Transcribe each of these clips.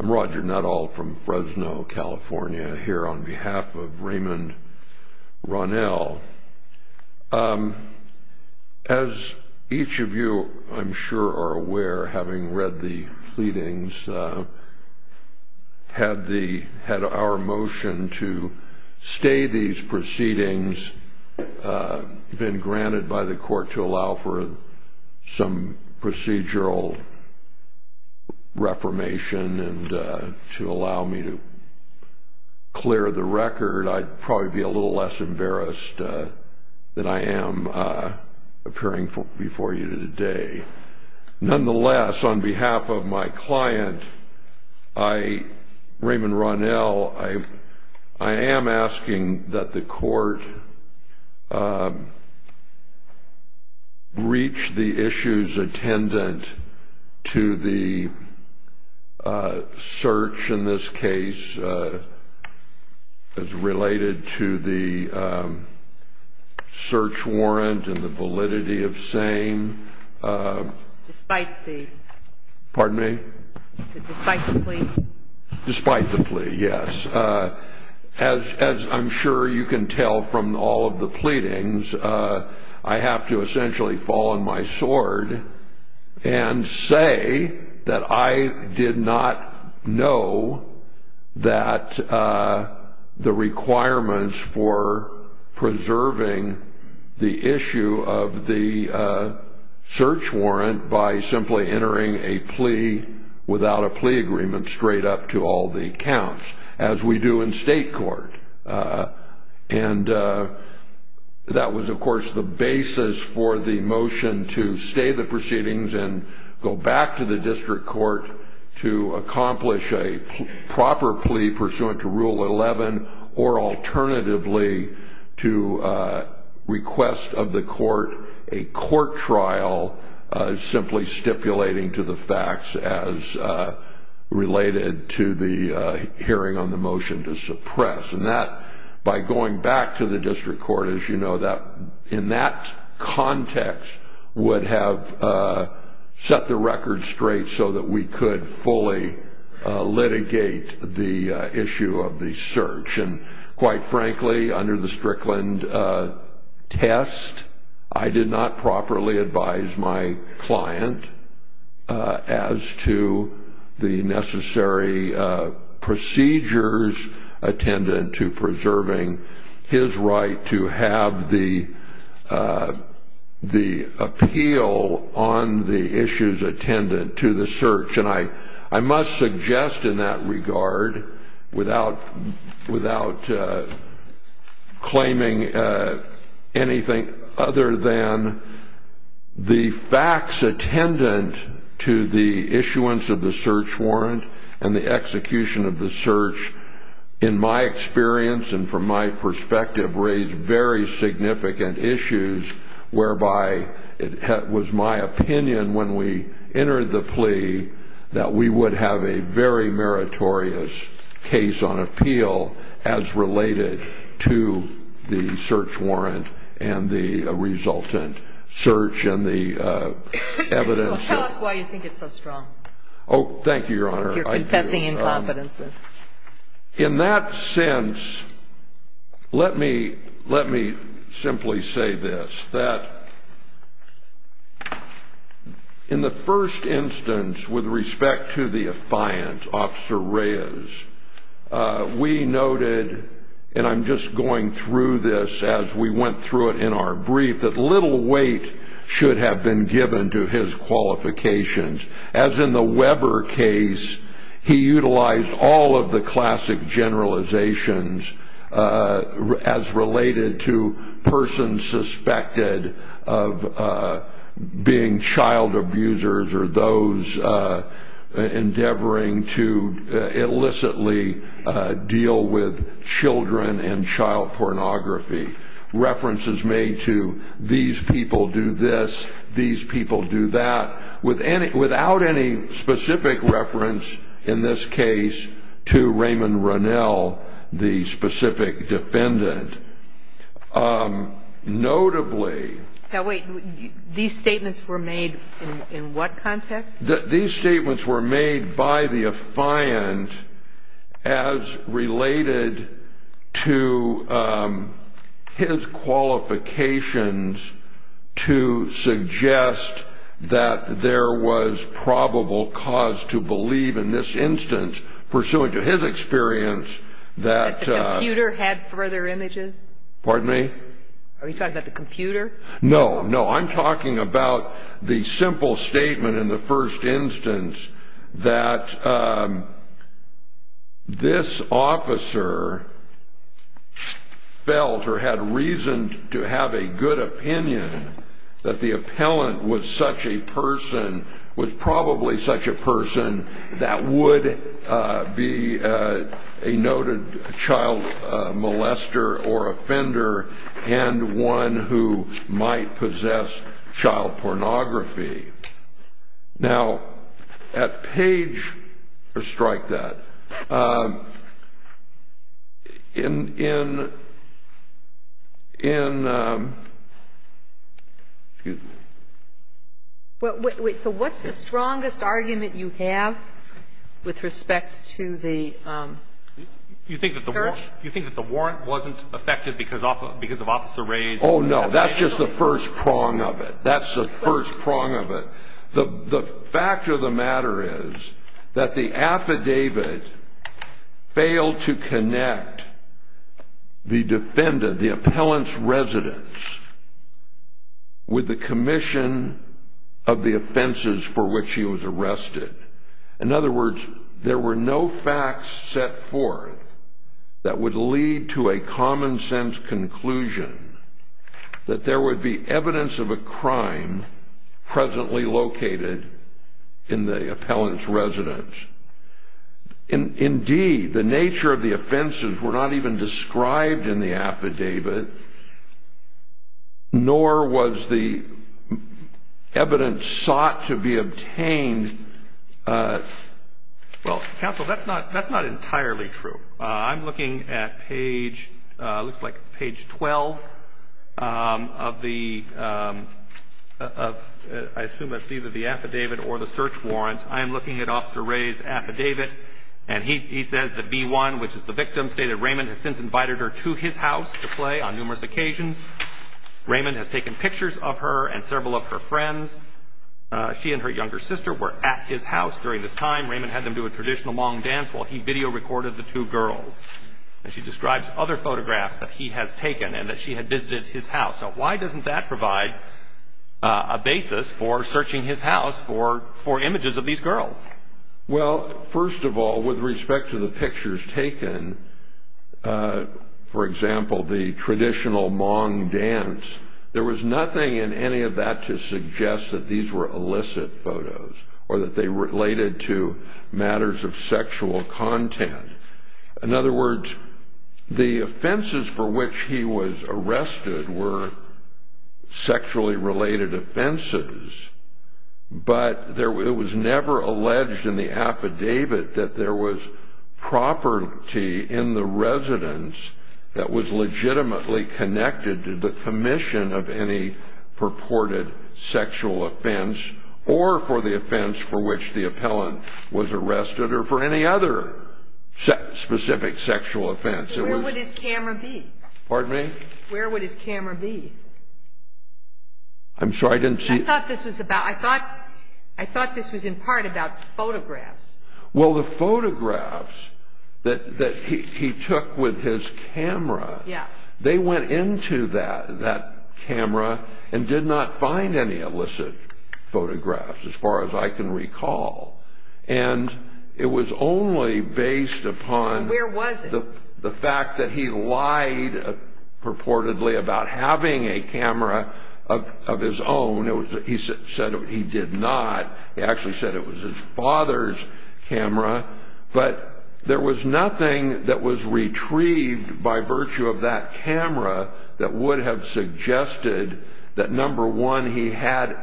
I'm Roger Nuttall from Fresno, California, here on behalf of Raymond Ronell. As each of you, I'm sure, are aware, having read the pleadings, had our motion to stay these proceedings, been granted by the court to allow for some procedural reformation and to allow me to clear the record, I'd probably be a little less embarrassed than I am appearing before you today. Nonetheless, on behalf of my client, Raymond Ronell, I am asking that the court reach the issues attendant to the search, in this case, as related to the search warrant and the validity of saying, despite the plea, yes, as I'm sure you can tell from all of the pleadings, I have to essentially fall on my sword and say that I did not know that the requirements for preserving the issue of the search warrant by simply entering a plea without a plea agreement straight up to all the accounts, as we do in state court. And that was, of course, the basis for the motion to stay the proceedings and go back to the of the court a court trial simply stipulating to the facts as related to the hearing on the motion to suppress. And that, by going back to the district court, as you know, in that context would have set the record straight so that we could fully litigate the issue of the search. Quite frankly, under the Strickland test, I did not properly advise my client as to the necessary procedures attendant to preserving his right to have the appeal on the issues attendant to the search. And I must suggest in that regard, without claiming anything other than the facts attendant to the issuance of the search warrant and the execution of the search, in my experience and from my perspective, raised very significant issues whereby it was my opinion when we entered the plea that we would have a very meritorious case on appeal as related to the search warrant and the resultant search and the evidence. Tell us why you think it's so strong. Oh, thank you, Your Honor. You're confessing incompetence. In that sense, let me simply say this, that in the first instance, with respect to the affiant, Officer Reyes, we noted, and I'm just going through this as we went through it in our brief, that little weight should have been given to his qualifications. As in the Weber case, he utilized all of the classic generalizations as related to persons suspected of being child abusers or those endeavoring to illicitly deal with children and child pornography. References made to these people do this, these people do that. Without any specific reference, in this case, to Raymond Ronell, the specific defendant. Notably. Now, wait, these statements were made in what context? These statements were made by the affiant as related to his qualifications to suggest that there was probable cause to believe in this instance, pursuant to his experience, that. That the computer had further images? Pardon me? Are you talking about the computer? No, no. I'm talking about the simple statement in the first instance that this officer felt or had reason to have a good opinion that the appellant was such a person, was probably such a person that would be a noted child molester or might possess child pornography. Now, at Page, or strike that, in, in, in, excuse me? Wait, so what's the strongest argument you have with respect to the search? You think that the warrant wasn't effective because of Officer Ray's? Oh, no, that's just the first prong of it. That's the first prong of it. The fact of the matter is that the affidavit failed to connect the defendant, the appellant's residence, with the commission of the offenses for which he was arrested. In other words, there were no facts set forth that would lead to a common-sense conclusion that there would be evidence of a crime presently located in the appellant's residence. Indeed, the nature of the offenses were not even described in the affidavit, nor was the evidence sought to be obtained. Well, counsel, that's not, that's not entirely true. I'm looking at Page, looks like it's Page 12 of the, of, I assume that's either the affidavit or the search warrant. I am looking at Officer Ray's affidavit, and he, he says that B1, which is the victim, stated Raymond has since invited her to his house to play on numerous occasions. Raymond has taken pictures of her and several of her friends. She and her younger sister were at his house during this time. Raymond had them do a traditional Hmong dance while he video recorded the two girls, and she describes other photographs that he has taken and that she had visited his house. So why doesn't that provide a basis for searching his house for, for images of these girls? Well, first of all, with respect to the pictures taken, for example, the traditional Hmong dance, there was nothing in any of that to suggest that these were illicit photos or that they related to matters of sexual content. In other words, the offenses for which he was arrested were sexually related offenses, but there, it was never alleged in the offense or for the offense for which the appellant was arrested or for any other specific sexual offense. Where would his camera be? Pardon me? Where would his camera be? I'm sorry, I didn't see. I thought this was about, I thought, I thought this was in part about photographs. Well, the photographs that he took with his camera, they went into that camera and did not find any illicit photographs, as far as I can recall. And it was only based upon the fact that he lied purportedly about having a camera of his own. He said he did not. He actually said it was his father's camera. But there was nothing that was retrieved by virtue of that camera that would have suggested that, number one, he had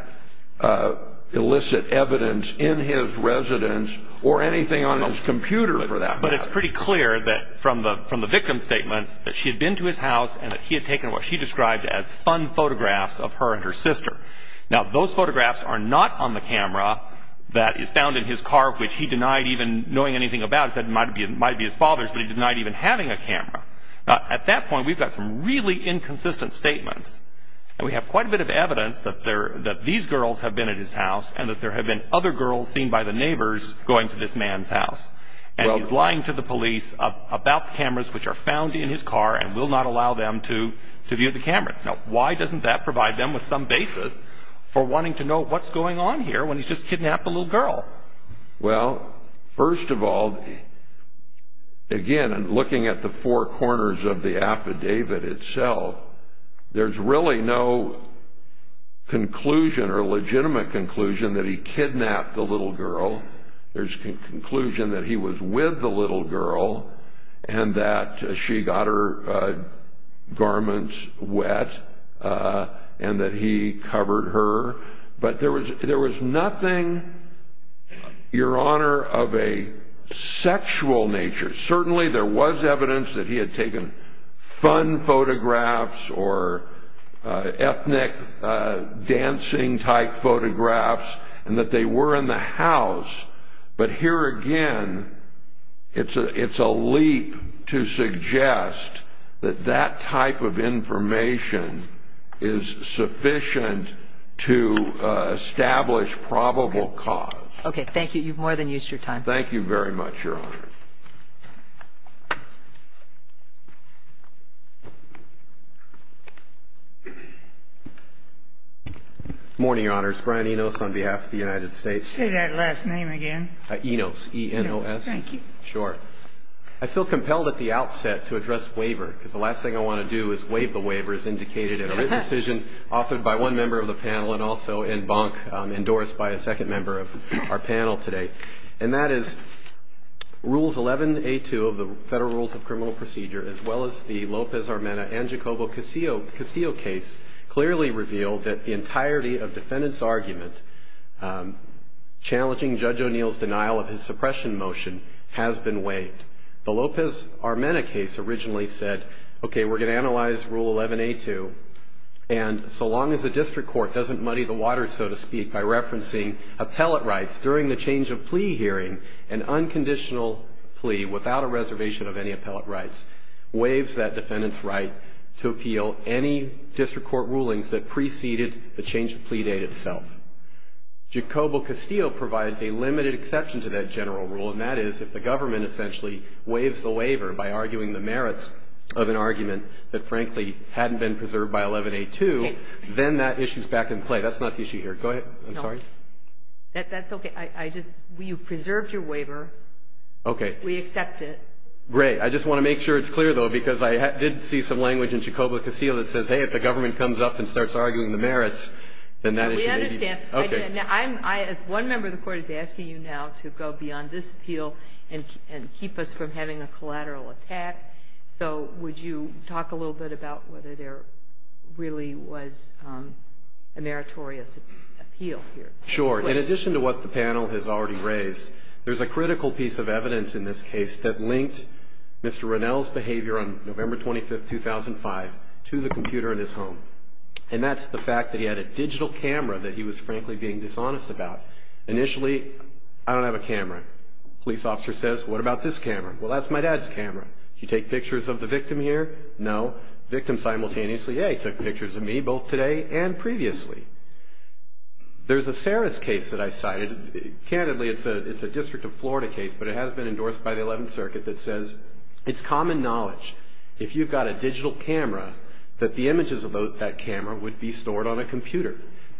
illicit evidence in his residence or anything on his computer for that. But it's pretty clear that from the from the victim's statements that she had been to his house and that he had taken what she described as fun photographs of her and her sister. Now, those photographs are not on the camera that is found in his car, which he denied even knowing anything about it might be it might be his father's. But he did not even having a camera at that point. We've got some really inconsistent statements. And we have quite a bit of evidence that there that these girls have been at his house and that there have been other girls seen by the neighbors going to this man's house. And he's lying to the police about cameras which are found in his car and will not allow them to to view the cameras. Now, why doesn't that provide them with some basis for wanting to know what's going on here when he's just kidnapped a little girl? Well, first of all, again, looking at the four corners of the affidavit itself, there's really no conclusion or legitimate conclusion that he kidnapped the little girl. There's a conclusion that he was with the little girl and that she got her garments wet and that he covered her. But there was there was nothing, Your Honor, of a sexual nature. Certainly, there was evidence that he had taken fun photographs or ethnic dancing type photographs and that they were in the house. But here again, it's a it's a leap to suggest that that type of information is sufficient to establish probable cause. OK, thank you. You've more than used your time. Thank you very much, Your Honor. Morning, Your Honors. Brian Enos on behalf of the United States. Say that last name again. Enos, E-N-O-S. Thank you. Sure. I feel compelled at the outset to address waiver because the last thing I want to do is waive the waiver as indicated in a written decision offered by one member of the panel and also in bunk endorsed by a second member of our panel today. And that is Rules 11-A-2 of the Federal Rules of Criminal Procedure, as well as the Lopez-Armena and Jacobo Castillo case, clearly revealed that the entirety of defendant's argument challenging Judge O'Neill's denial of his suppression motion has been waived. The Lopez-Armena case originally said, OK, we're going to analyze Rule 11-A-2. And so long as the district court doesn't muddy the waters, so to speak, by referencing appellate rights during the change of plea hearing, an unconditional plea without a reservation of any appellate rights waives that defendant's right to appeal any district court rulings that preceded the change of plea date itself. Jacobo Castillo provides a limited exception to that general rule, and that is if the government essentially waives the waiver by arguing the merits of an argument that, frankly, hadn't been preserved by 11-A-2, then that issue's back in play. That's not the issue here. Go ahead. I'm sorry. That's OK. I just, you've preserved your waiver. OK. We accept it. Great. I just want to make sure it's clear, though, because I did see some language in Jacobo Castillo that says, hey, if the government comes up and starts arguing the merits, then that is maybe. We understand. OK. Now, as one member of the court is asking you now to go beyond this appeal and keep us from having a collateral attack, so would you talk a little bit about whether there really was a meritorious appeal here? Sure. In addition to what the panel has already raised, there's a critical piece of evidence in this case that linked Mr. Ronell's behavior on November 25, 2005, to the computer in his home. And that's the fact that he had a digital camera that he was, frankly, being dishonest about. Initially, I don't have a camera. Police officer says, what about this camera? Well, that's my dad's camera. You take pictures of the victim here? No. Victim simultaneously, yeah, he took pictures of me both today and previously. There's a Saris case that I cited. Candidly, it's a District of Florida case, but it has been endorsed by the 11th Circuit that says it's common knowledge, if you've got a digital camera, that the images of that camera would be stored on a computer.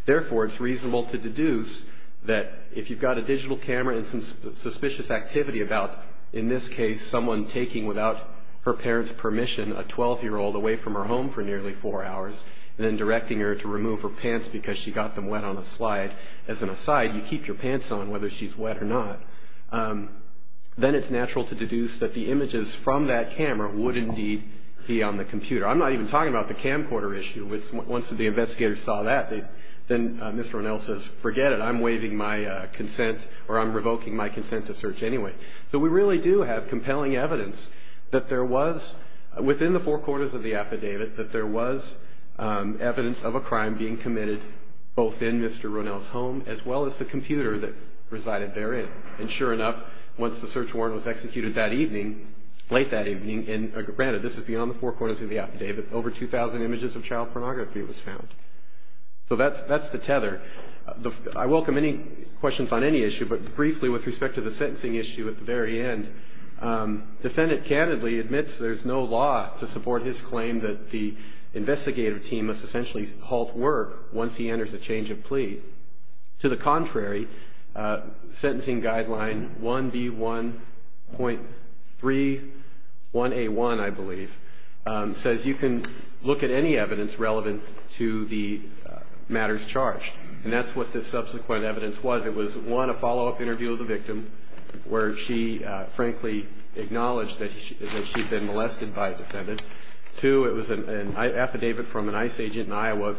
Therefore, it's reasonable to deduce that if you've got a digital camera and some suspicious activity about, in this case, someone taking, without her parents' permission, a 12-year-old away from her home for nearly four hours, and then directing her to remove her pants because she got them wet on a slide, as an aside, you keep your pants on whether she's wet or not, then it's natural to deduce that the images from that camera would indeed be on the computer. I'm not even talking about the camcorder issue, which, once the investigators saw that, then Mr. Ronnell says, forget it, I'm waiving my consent, or I'm revoking my consent to search anyway. So we really do have compelling evidence that there was, within the four quarters of the affidavit, that there was evidence of a crime being committed both in Mr. Ronnell's home, as well as the computer that resided therein. And sure enough, once the search warrant was executed that evening, late that evening, and granted, this is beyond the four quarters of the affidavit, over 2,000 images of child pornography was found. So that's the tether. I welcome any questions on any issue, but briefly, with respect to the sentencing issue at the very end, defendant candidly admits there's no law to support his claim that the investigative team must essentially halt work once he enters a change of plea. To the contrary, sentencing guideline 1B1.3, 1A1, I believe, says you can look at any evidence relevant to the matters charged, and that's what this subsequent evidence was. It was, one, a follow-up interview with the victim, where she frankly acknowledged that she'd been molested by a defendant. Two, it was an affidavit from an ICE agent in Iowa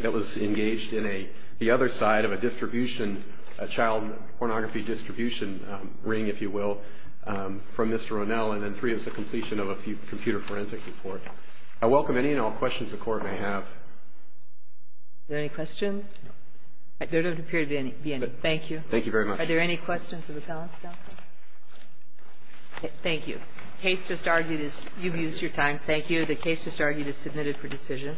that was engaged in a, the other side of a distribution, a child pornography distribution ring, if you will, from Mr. Ronnell. And then three, it was the completion of a computer forensic report. I welcome any and all questions the Court may have. Are there any questions? There don't appear to be any. Thank you. Thank you very much. Are there any questions of the defense? Thank you. The case just argued is, you've used your time. Thank you. The case just argued is submitted for decision.